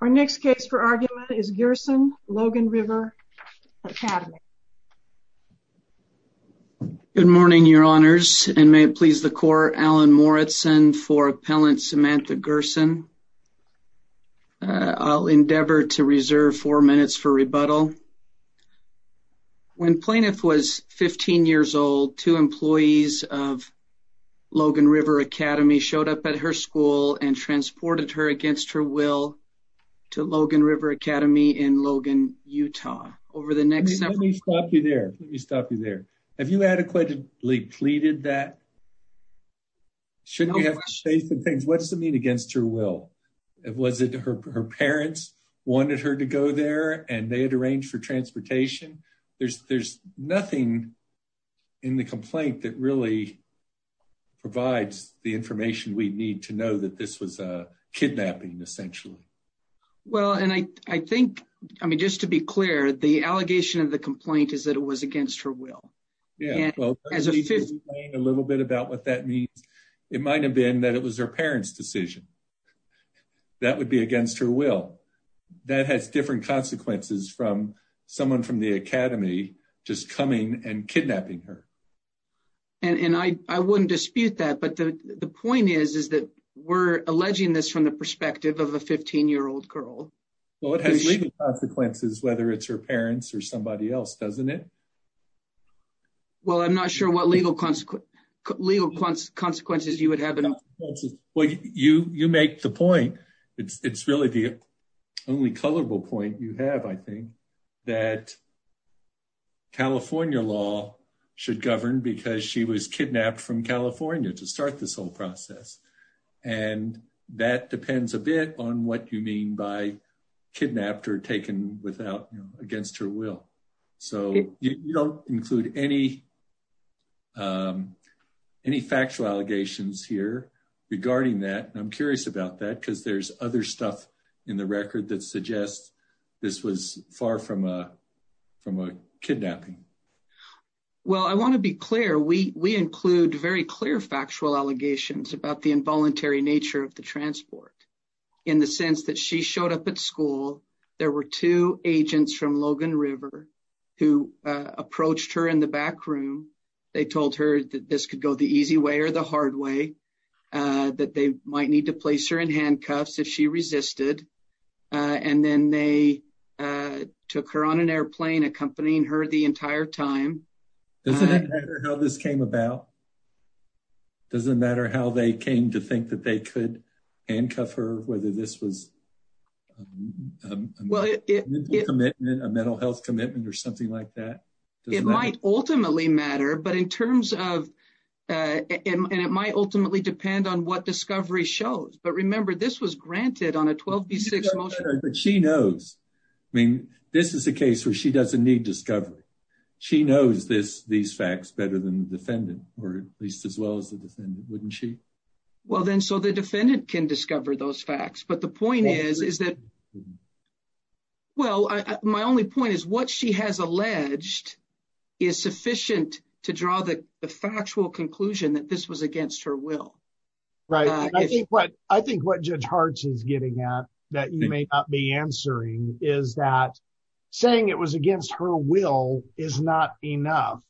Our next case for argument is Gerson v. Logan River Academy. Good morning, Your Honors, and may it please the Court, Alan Moritzen for Appellant Samantha Gerson. I'll endeavor to reserve four minutes for rebuttal. When Plaintiff was 15 years old, two employees of Logan River Academy showed up at her school and to Logan River Academy in Logan, Utah. Let me stop you there. Let me stop you there. Have you adequately pleaded that? Shouldn't you have faith in things? What does it mean against her will? Was it her parents wanted her to go there and they had arranged for transportation? There's nothing in the complaint that really provides the information we need to know that this was a kidnapping, essentially. Well, and I think, I mean, just to be clear, the allegation of the complaint is that it was against her will. Yeah, well, a little bit about what that means. It might have been that it was her parents decision. That would be against her will. That has different consequences from someone from the Academy, just coming and kidnapping her. And I wouldn't dispute that. But the point is, is that we're alleging this from the perspective of a 15-year-old girl. Well, it has legal consequences, whether it's her parents or somebody else, doesn't it? Well, I'm not sure what legal consequences you would have. Well, you make the point. It's really the only colorable point you have, I think, that California law should govern because she was kidnapped from California to start this whole process. And that depends a bit on what you mean by kidnapped or taken against her will. So you don't include any factual allegations here regarding that. And I'm curious about that because there's other stuff in the record that suggests this was far from a kidnapping. Well, I want to be clear. We include very clear factual allegations about the involuntary nature of the transport in the sense that she showed up at school. There were two agents from Logan River who approached her in the back room. They told her that this could go the easy way or the hard way that they might need to place her in handcuffs if she resisted. And then they took her on an airplane, accompanying her the entire time. Does it matter how this came about? Does it matter how they came to think that they could handcuff her, whether this was well, a mental health commitment or something like that? It might ultimately matter. But in terms of and it might ultimately depend on what discovery shows. But remember, this was granted on a 12-6 motion. But she knows, I mean, this is a case where she doesn't need discovery. She knows this, these facts better than the defendant or at least as well as the defendant, wouldn't she? Well, then so the defendant can discover those facts. But the point is, is that, well, my only point is what she has alleged is sufficient to draw the factual conclusion that this was against her will. Right. I think what I think what Judge Hart is getting at that you may not be answering is that saying it was against her will is not enough.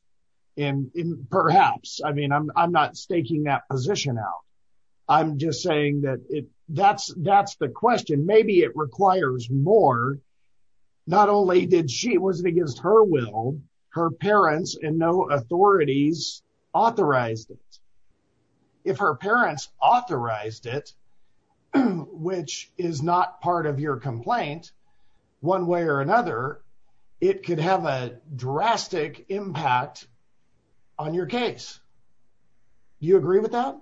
And perhaps I mean, I'm not staking that position out. I'm just saying that it that's that's the question. Maybe it requires more. Not only did she was against her will, her parents and no authorities authorized it. If her parents authorized it, which is not part of your complaint, one way or another, it could have a drastic impact on your case. You agree with that?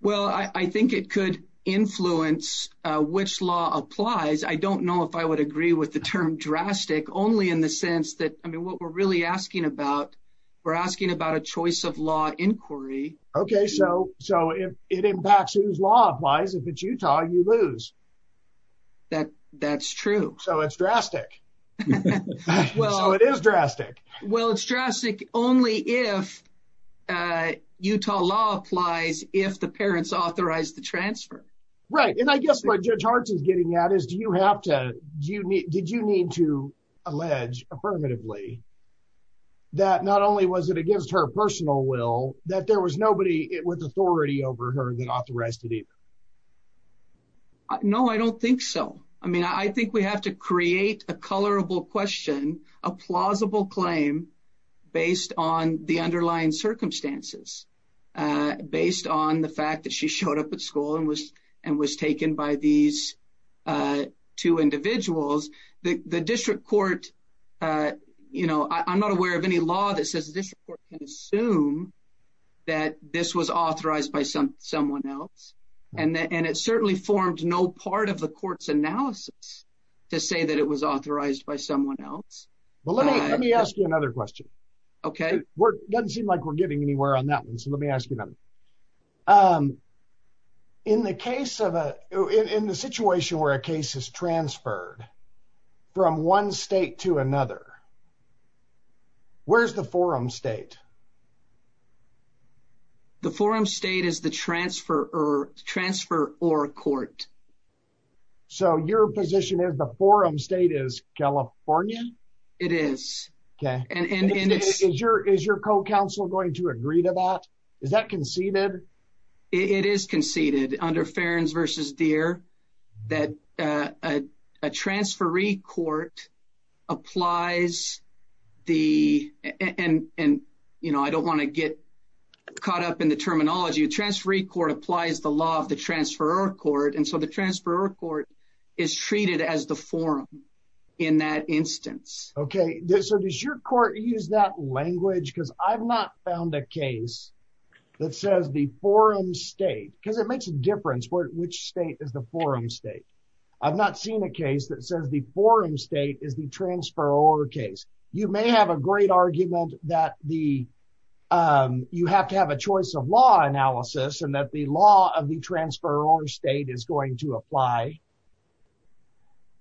Well, I think it could influence which law applies. I don't know if I would agree with the term drastic only in the sense that I mean, what we're really asking about, we're asking about a choice of law inquiry. Okay, so so if it impacts whose law applies, if it's Utah, you lose. That that's true. So it's drastic. Well, it is drastic. Well, it's drastic only if Utah law applies if the parents authorized the transfer. Right. And I guess what Judge Hart is getting at is do you have to do you need did you need to allege affirmatively that not only was it against her personal will, that there was nobody with authority over her that authorized it either? No, I don't think so. I mean, I think we have to create a colorable question, a plausible claim, based on the underlying circumstances, based on the fact that she showed up at school and was and was taken by these two individuals, the district court. You know, I'm not aware of any law that says this court can assume that this was authorized by some someone else. And that and it certainly formed no part of the court's analysis to say that it was authorized by someone else. Well, let me let me ask you another question. Okay, we're doesn't seem like we're getting anywhere on that one. So let me ask you another. In the case of a in the situation where a case is to another. Where's the forum state? The forum state is the transfer or transfer or court. So your position is the forum state is California. It is. Okay. And it's your is your co counsel going to agree to that? Is that conceded? It is conceded under Ferens versus deer, that a transferee court applies the end. And, you know, I don't want to get caught up in the terminology of transferee court applies the law of the transfer or court. And so the transfer or court is treated as the forum in that instance. Okay, so does your court use that language because I've not found a case that says the forum state because it makes a difference for which state is the forum state. I've not seen a case that says the forum state is the transfer or case, you may have a great argument that the you have to have a choice of law analysis and that the law of the transfer or state is going to apply.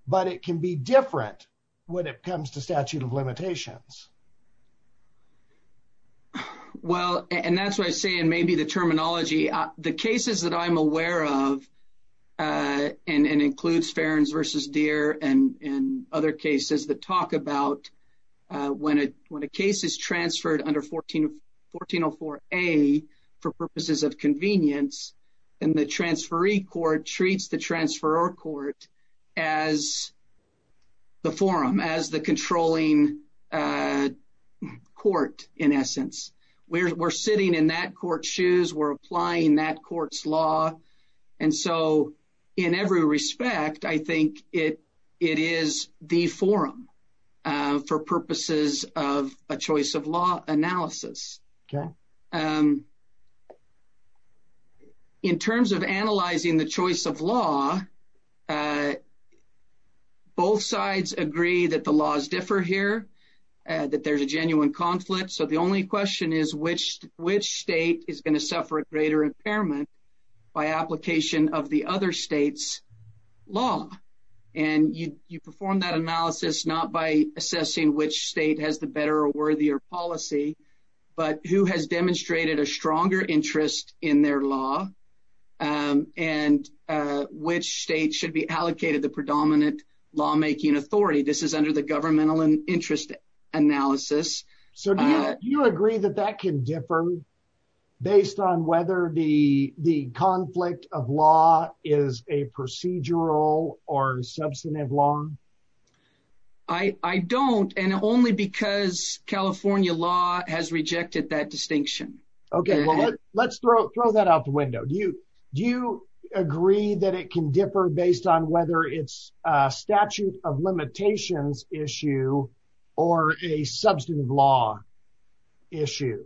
But it can be different when it comes to statute of limitations. Well, and that's why I say and maybe the terminology, the cases that I'm aware of, and includes Ferens versus deer and other cases that talk about when it when a case is transferred under 14 1404 a for purposes of convenience, and the transferee court treats the transfer or court as the forum as the controlling court in essence, we're sitting in that court shoes, we're applying that court's law. And so, in every respect, I think it, it is the forum for purposes of a choice of law analysis. In terms of analyzing the choice of law, both sides agree that the laws differ here, that there's a genuine conflict. So the only question is which which state is going to suffer a greater impairment by application of the other states law. And you perform that analysis not by assessing which state has the better or worthier policy, but who has demonstrated a stronger interest in their law. And which state should be allocated the predominant lawmaking authority this is under the governmental and interest analysis. So do you agree that that can differ based on whether the the conflict of law is a procedural or substantive law? I don't and only because California law has rejected that distinction. Okay, let's throw throw that out the window. Do you do you agree that it can differ based on whether it's a statute of limitations issues under the choice of law issue?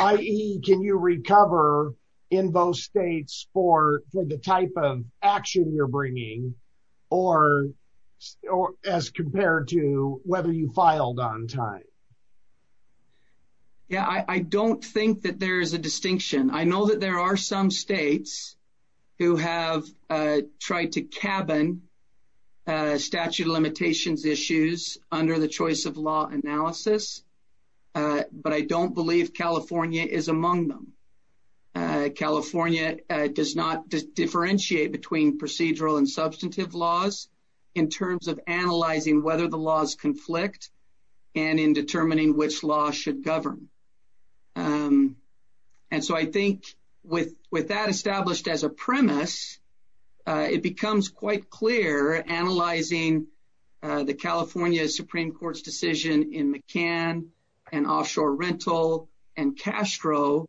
i.e. Can you recover in both states for the type of action you're bringing? Or, or as compared to whether you filed on time? Yeah, I don't think that there's a distinction. I know that there are some states who have tried to cabin statute of limitations issues under the choice of law analysis. But I don't believe California is among them. California does not differentiate between procedural and substantive laws, in terms of which law should govern. And so I think with with that established as a premise, it becomes quite clear analyzing the California Supreme Court's decision in McCann, and offshore rental, and Castro,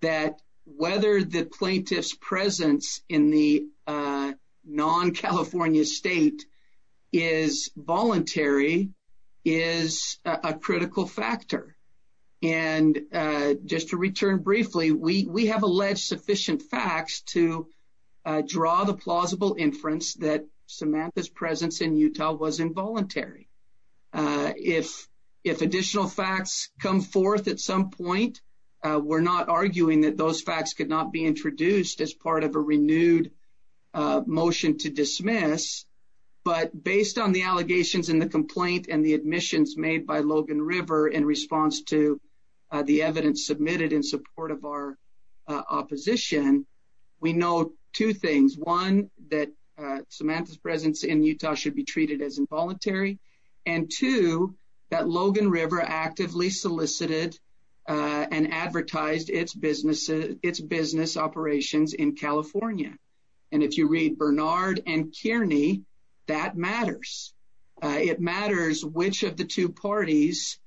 that whether the plaintiff's presence in the Utah was involuntary is a logical factor. And just to return briefly, we have alleged sufficient facts to draw the plausible inference that Samantha's presence in Utah was involuntary. If, if additional facts come forth, at some point, we're not arguing that those facts could not be introduced as part of a renewed motion to dismiss. But based on the in response to the evidence submitted in support of our opposition, we know two things. One, that Samantha's presence in Utah should be treated as involuntary. And two, that Logan River actively solicited and advertised its business, its business operations in California. And if you read Bernard and Kearney, that matters. It matters which of the two parties,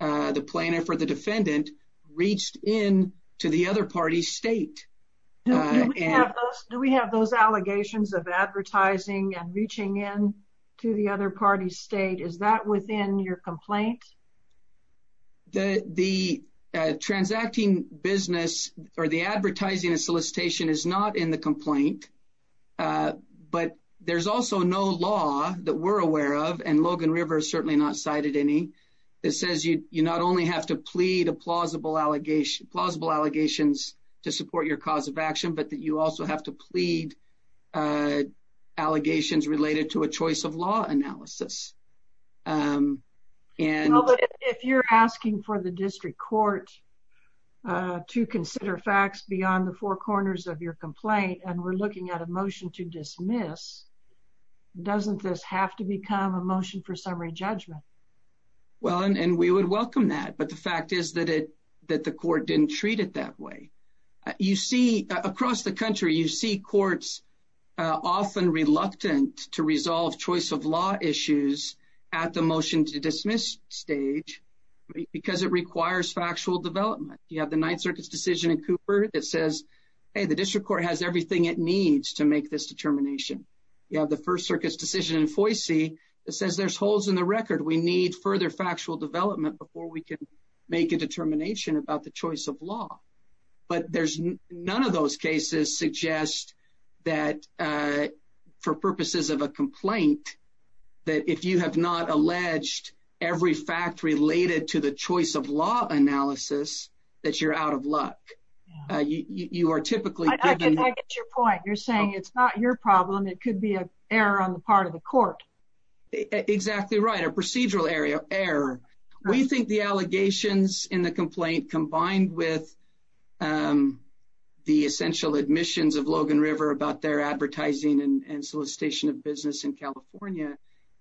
the plaintiff or the defendant, reached in to the other party's state. Do we have those allegations of advertising and reaching in to the other party's state? Is that within your complaint? The the transacting business or the advertising and solicitation is not in the complaint. But there's also no law that we're It says you you not only have to plead a plausible allegation, plausible allegations to support your cause of action, but that you also have to plead allegations related to a choice of law analysis. And if you're asking for the district court to consider facts beyond the four corners of your complaint, and we're looking at a motion to dismiss, doesn't this have to become a motion for rejudgment? Well, and we would welcome that. But the fact is that it that the court didn't treat it that way. You see across the country, you see courts often reluctant to resolve choice of law issues at the motion to dismiss stage, because it requires factual development. You have the Ninth Circuit's decision in Cooper that says, hey, the district court has everything it needs to make this determination. You have the First Circuit's decision in the record, we need further factual development before we can make a determination about the choice of law. But there's none of those cases suggest that, for purposes of a complaint, that if you have not alleged every fact related to the choice of law analysis, that you're out of luck. You are typically your point, you're saying it's not your problem, it could be an error on the part of the court. Exactly right, a procedural area error. We think the allegations in the complaint combined with the essential admissions of Logan River about their advertising and solicitation of business in California,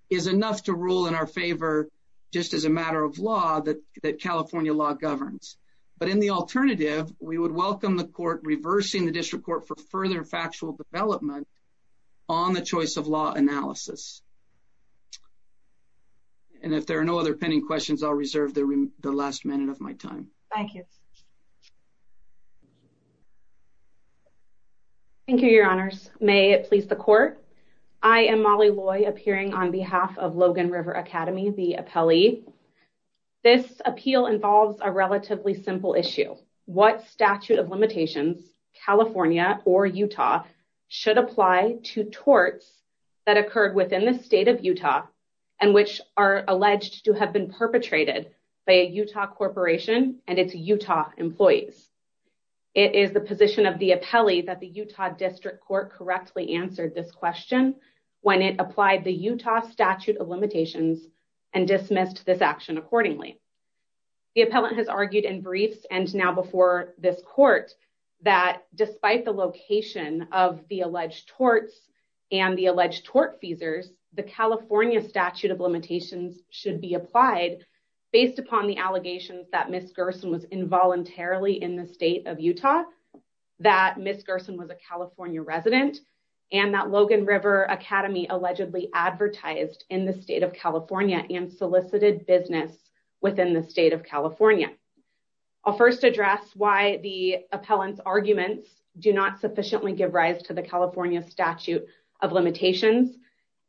is enough to rule in our favor, just as a matter of law that that California law governs. But in the alternative, we would welcome the court reversing the district court for further factual development on the choice of law analysis. And if there are no other pending questions, I'll reserve the last minute of my time. Thank you. Thank you, Your Honors. May it please the court. I am Molly Loy appearing on behalf of Logan River Academy, the appellee. This appeal involves a relatively simple issue, what statute of limitations California or Utah should apply to torts that occurred within the state of Utah, and which are alleged to have been perpetrated by a Utah corporation and its Utah employees. It is the position of the appellee that the Utah district court correctly answered this question, when it applied the Utah statute of limitations, and dismissed this action accordingly. The appellant has argued in briefs and now before this court, that despite the location of the alleged torts, and the alleged tort feasors, the California statute of limitations should be applied based upon the allegations that Miss Gerson was involuntarily in the state of Utah, that Miss Gerson was a California resident, and that Logan River Academy allegedly advertised in the state of California and solicited business within the state of California. I'll first address why the appellant's not sufficiently give rise to the California statute of limitations.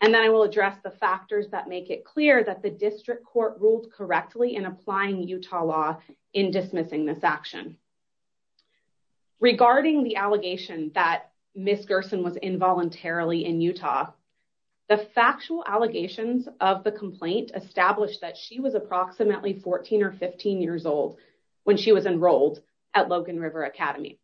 And then I will address the factors that make it clear that the district court ruled correctly in applying Utah law in dismissing this action. Regarding the allegation that Miss Gerson was involuntarily in Utah, the factual allegations of the complaint established that she was approximately 14 or 15 years old, when she was enrolled at Logan River Academy.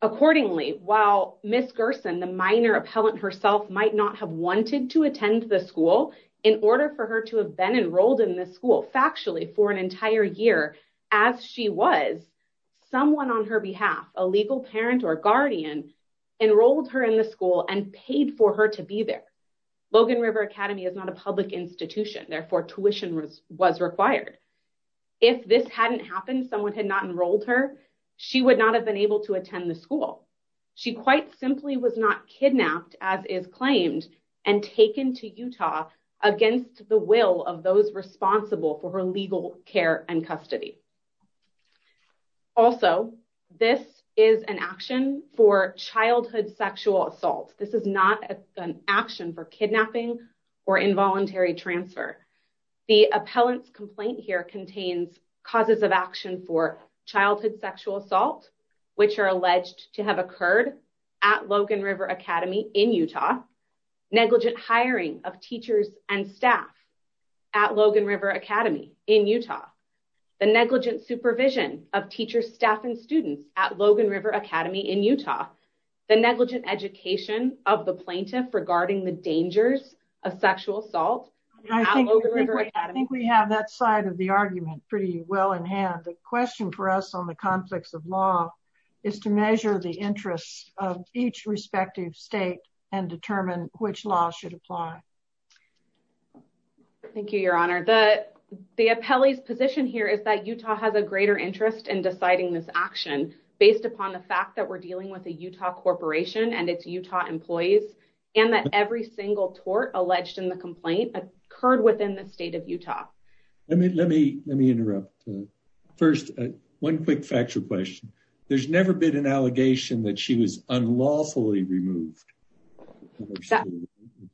Accordingly, while Miss Gerson, the minor appellant herself might not have wanted to attend the school in order for her to have been enrolled in the school factually for an entire year, as she was someone on her behalf, a legal parent or guardian enrolled her in the school and paid for her to be there. Logan River Academy is not a public institution, therefore tuition was was required. If this hadn't happened, someone had not enrolled her, she would not have been able to attend the school. She quite simply was not kidnapped as is claimed and taken to Utah against the will of those responsible for her legal care and custody. Also, this is an action for childhood sexual assault. This is not an action for kidnapping or involuntary transfer. The action for childhood sexual assault, which are alleged to have occurred at Logan River Academy in Utah, negligent hiring of teachers and staff at Logan River Academy in Utah, the negligent supervision of teachers, staff and students at Logan River Academy in Utah, the negligent education of the plaintiff regarding the dangers of sexual assault. I think we have that side of the argument pretty well in hand. The question for us on the conflicts of law is to measure the interests of each respective state and determine which law should apply. Thank you, Your Honor. The appellee's position here is that Utah has a greater interest in deciding this action based upon the fact that we're dealing with a Utah corporation and its Utah employees, and that every single tort alleged in the complaint occurred within the state of Utah. Let me let me let me interrupt. First, one quick factual question. There's never been an allegation that she was unlawfully removed.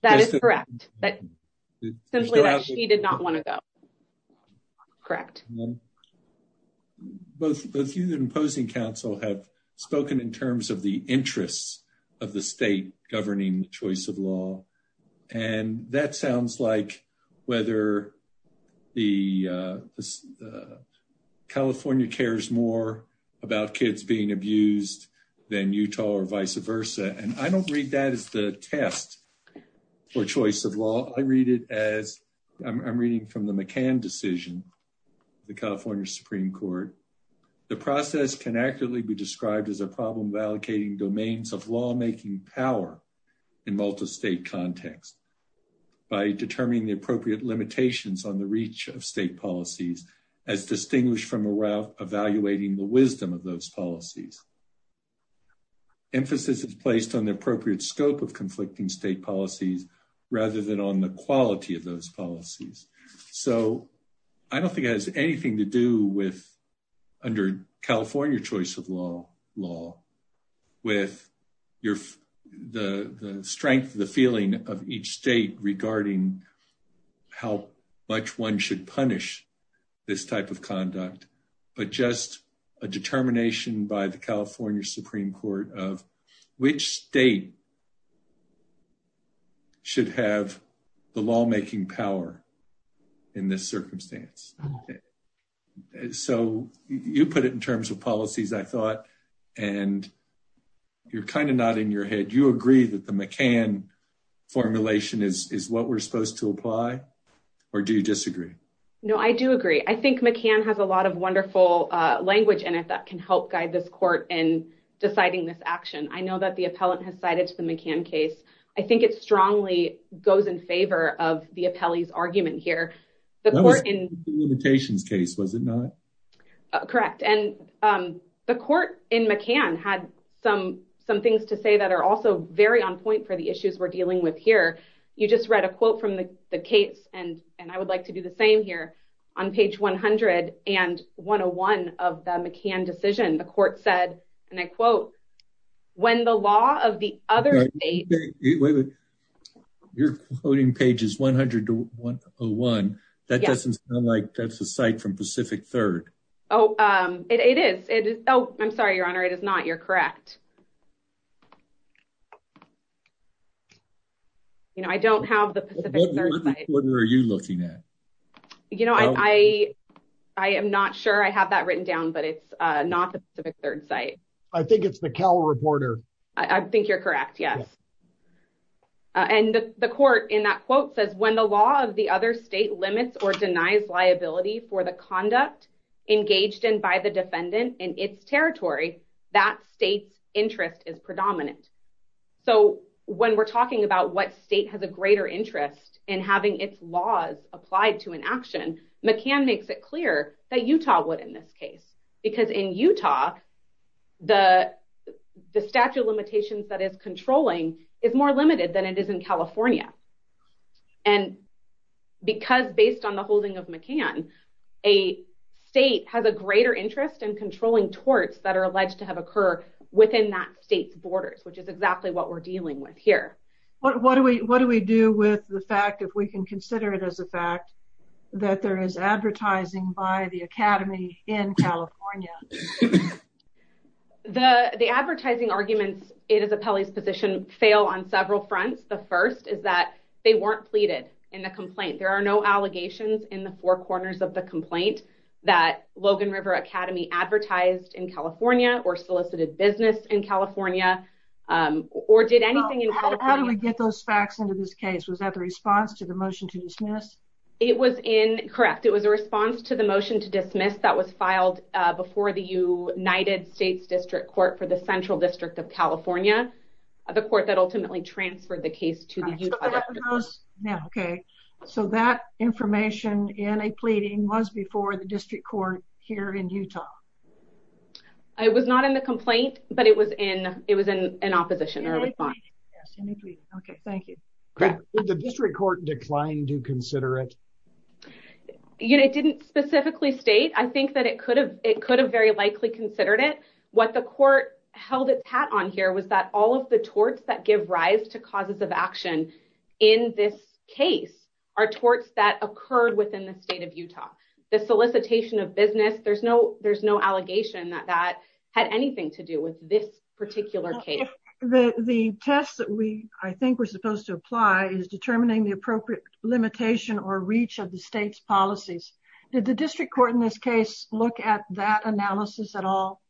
That is correct. But simply that she did not want to go. Correct. Both the few that imposing counsel have spoken in terms of the interests of the state governing the choice of law. And that sounds like whether the California cares more about kids being abused than Utah or vice versa. And I don't read that as the test for choice of law. I read it as I'm reading from the McCann decision, the California Supreme Court. The process can accurately be described as a problem of allocating domains of state context by determining the appropriate limitations on the reach of state policies, as distinguished from around evaluating the wisdom of those policies. Emphasis is placed on the appropriate scope of conflicting state policies, rather than on the quality of those policies. So I don't think it has anything to do with under California choice of law law, with your the strength of the feeling of each state regarding how much one should punish this type of conduct, but just a determination by the California Supreme Court of which state should have the lawmaking power in this circumstance. So you put it in terms of policies, I thought, and you're kind of nodding your head, you agree that the McCann formulation is what we're supposed to apply? Or do you disagree? No, I do agree. I think McCann has a lot of wonderful language in it that can help guide this court in deciding this action. I know that the appellant has cited the McCann case, I think it strongly goes in favor of the appellee's argument here. The court in the limitations case, was it not? Correct. And the court in McCann had some, some things to say that are also very on point for the issues we're dealing with here. You just read a quote from the case. And, and I would like to do the same here. On page 100. And 101 of the McCann decision, the court said, and I quote, when the law of the other you're quoting pages 100 to 101. That doesn't sound like that's a third. Oh, it is. It is. Oh, I'm sorry, Your Honor. It is not you're correct. You know, I don't have the Pacific. What are you looking at? You know, I, I am not sure I have that written down. But it's not the Pacific third site. I think it's the Cal reporter. I think you're correct. Yes. And the court in that quote says when the law of the other state limits or denies liability for the conduct engaged in by the defendant in its territory, that state's interest is predominant. So when we're talking about what state has a greater interest in having its laws applied to an action, McCann makes it clear that Utah would in this case, because in Utah, the statute of limitations that is controlling is more limited than it is in a state has a greater interest in controlling torts that are alleged to have occur within that state's borders, which is exactly what we're dealing with here. What do we what do we do with the fact if we can consider it as a fact that there is advertising by the Academy in California? The the advertising arguments, it is a Pelley's position fail on several fronts. The first is that they weren't pleaded in the corners of the complaint that Logan River Academy advertised in California or solicited business in California, or did anything in how do we get those facts into this case? Was that the response to the motion to dismiss? It was in correct. It was a response to the motion to dismiss that was filed before the United States District Court for the Central District of California, the court that ultimately transferred the case to the Yeah, okay. So that information in a pleading was before the district court here in Utah. I was not in the complaint, but it was in it was in an opposition or Okay, thank you. The district court declined to consider it. You know, it didn't specifically state I think that it could have it could have very likely considered it. What the court held its hat on here was that all of the torts that give rise to causes of action, in this case, are torts that occurred within the state of Utah, the solicitation of business, there's no there's no allegation that that had anything to do with this particular case. The the test that we I think we're supposed to apply is determining the appropriate limitation or reach of the state's policies. Did the district court in this case look at that analysis at all?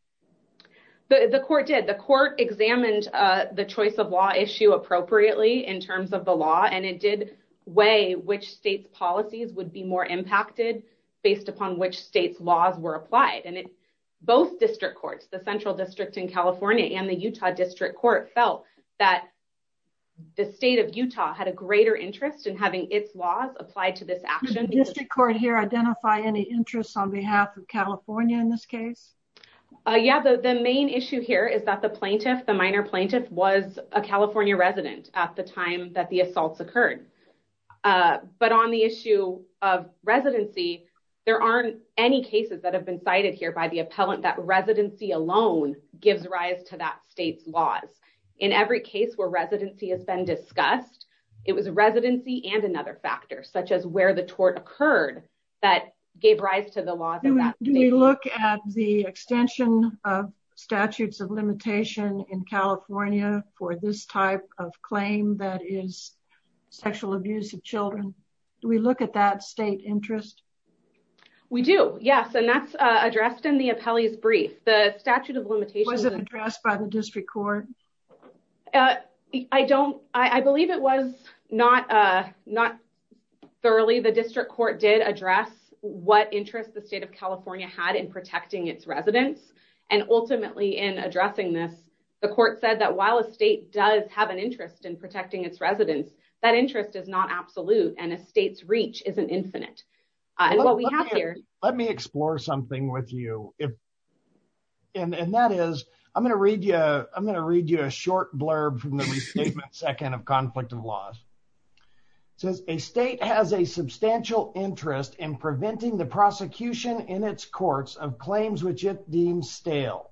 The court did the court examined the choice of law issue appropriately in terms of the law, and it did weigh which state's policies would be more impacted based upon which state's laws were applied. And it's both district courts, the Central District in California and the Utah District Court felt that the state of Utah had a greater interest in having its laws applied to this action. District Court here identify any interest on behalf of California in this case? Yeah, the main issue here is that the plaintiff, the minor resident at the time that the assaults occurred. But on the issue of residency, there aren't any cases that have been cited here by the appellant that residency alone gives rise to that state's laws. In every case where residency has been discussed. It was a residency and another factor such as where the tort occurred, that gave rise to the laws. Do we look at the extension of statutes of limitation in of claim that is sexual abuse of children? Do we look at that state interest? We do. Yes. And that's addressed in the appellee's brief, the statute of limitations was addressed by the district court. I don't I believe it was not not thoroughly the district court did address what interest the state of California had in protecting its residents. And ultimately in addressing this, the court said that while a state does have an interest in protecting its residents, that interest is not absolute and a state's reach isn't infinite. And what we have here, let me explore something with you if and that is, I'm going to read you I'm going to read you a short blurb from the second of conflict of laws. Says a state has a substantial interest in preventing the prosecution in its courts of claims which it deems stale.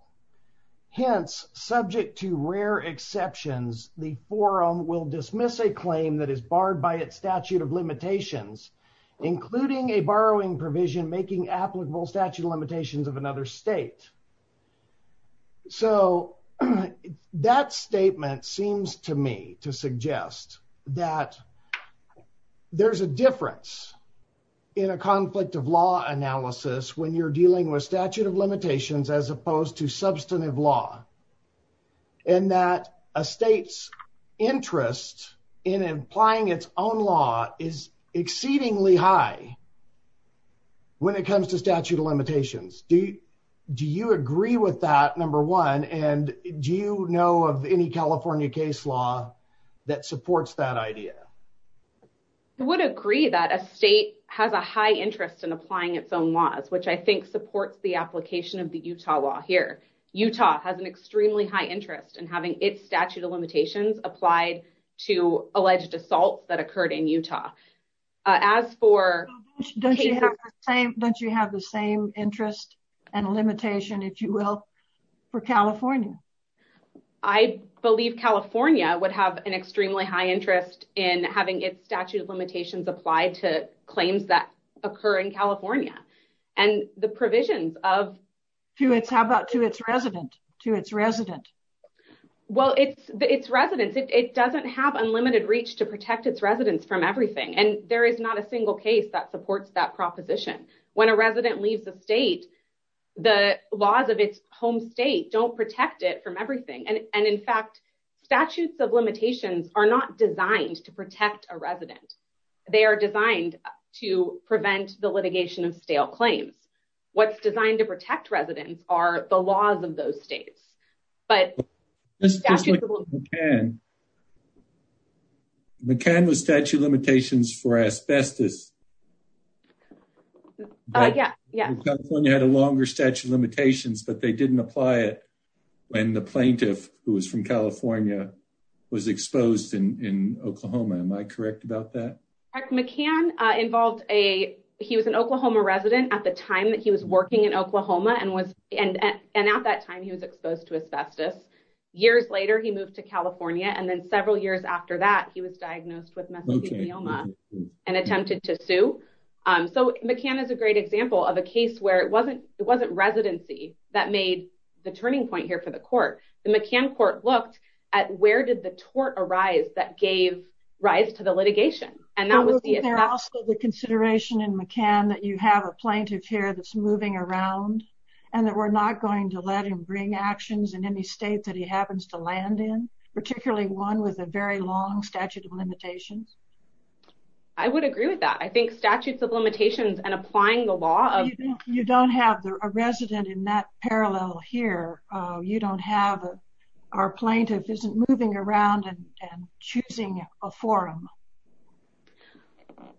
Hence, subject to rare exceptions, the forum will dismiss a claim that is barred by its statute of limitations, including a borrowing provision making applicable statute of limitations of another state. So that statement seems to me to suggest that there's a difference in a conflict of law analysis when you're dealing with statute of limitations as opposed to substantive law. And that a state's interest in applying its own law is exceedingly high. When it comes to statute of limitations, do you agree with that number one? And do you know of any California case law that supports that idea? I would agree that a state has a high interest in applying its own laws, which I think supports the application of the Utah law here. Utah has an extremely high interest in having its statute of limitations applied to alleged assaults that occurred in Utah. As for... Don't you have the same interest and limitation, if you will, for California? I believe California would have an extremely high interest in having its statute of limitations applied to claims that occur in California and the provisions of... To its... How about to its resident? To its resident? Well, its residents, it doesn't have unlimited reach to protect its residents from everything. And there is not a single case that supports that proposition. When a resident leaves the state, the laws of its home state don't protect it from everything. protect a resident. They are designed to prevent the litigation of stale claims. What's designed to protect residents are the laws of those states. But... McCann was statute of limitations for asbestos. Oh, yeah, yeah. California had a longer statute of limitations, but they didn't apply it when the plaintiff who was from California was exposed in Oklahoma. Am I correct about that? McCann involved a... He was an Oklahoma resident at the time that he was working in Oklahoma and was... And at that time, he was exposed to asbestos. Years later, he moved to California. And then several years after that, he was diagnosed with mesothelioma and attempted to sue. So McCann is a great example of a case where it wasn't... It wasn't residency that made the turning point here for the court. The McCann court looked at where did the tort arise that gave rise to the litigation? And that was the... Was there also the consideration in McCann that you have a plaintiff here that's moving around and that we're not going to let him bring actions in any state that he happens to land in, particularly one with a very long statute of limitations? I would agree with that. I think statutes of limitations and applying the law of... You don't have a resident in that parallel here. You don't have... Our plaintiff isn't moving around and choosing a forum.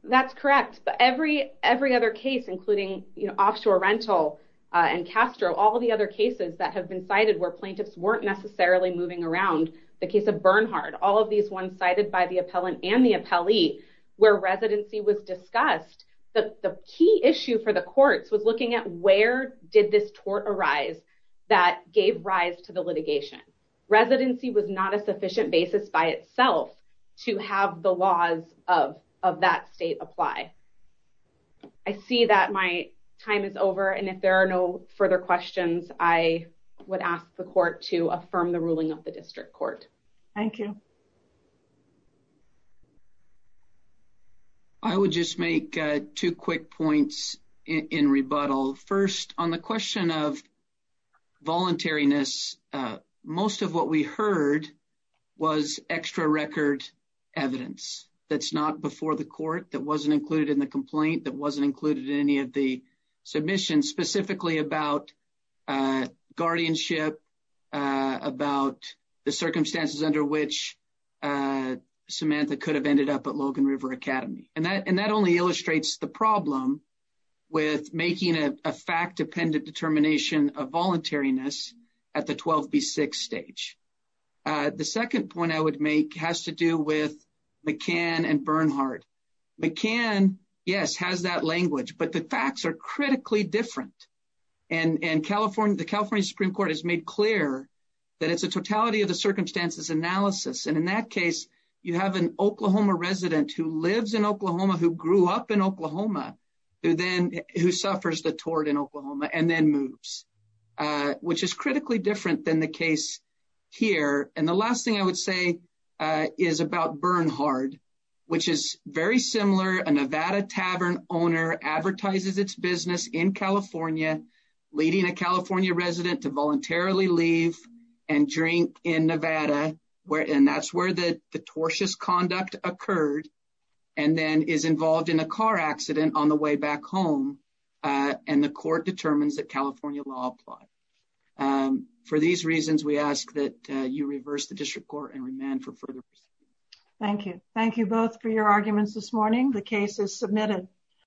That's correct. But every other case, including offshore rental and Castro, all the other cases that have been cited where plaintiffs weren't necessarily moving around, the case of Bernhardt, all of these ones cited by the appellant and the appellee where residency was discussed. The key issue for the courts was looking at where did this tort arise that gave rise to the litigation. Residency was not a sufficient basis by itself to have the laws of that state apply. I see that my time is over and if there are no further questions, I would ask the court to affirm the ruling of the district court. Thank you. I would just make two quick points in rebuttal. First, on the question of voluntariness, most of what we heard was extra record evidence that's not before the court, that wasn't included in the complaint, that wasn't included in any of the submissions specifically about guardianship, about the circumstances under which Samantha could have ended up at Logan River Academy. And that only illustrates the problem with making a fact dependent determination of voluntariness at the 12B6 stage. The second point I would make has to do with McCann and Bernhardt. McCann, yes, has that language, but the facts are critically different. And the California Supreme Court has made clear that it's a totality of the circumstances analysis. And in that case, you have an Oklahoma resident who lives in Oklahoma, who grew up in Oklahoma, who then who suffers the tort in Oklahoma and then moves, which is critically different than the case here. And the last thing I would say is about Bernhardt, which is very similar. A Nevada tavern owner advertises its business in California, leading a California resident to voluntarily leave and drink in Nevada, and that's where the tortious conduct occurred. And then is involved in a car accident on the way back home. And the court determines that California law apply. For these reasons, we ask that you reverse the district court and remand for further. Thank you. Thank you both for your arguments this morning. The case is submitted.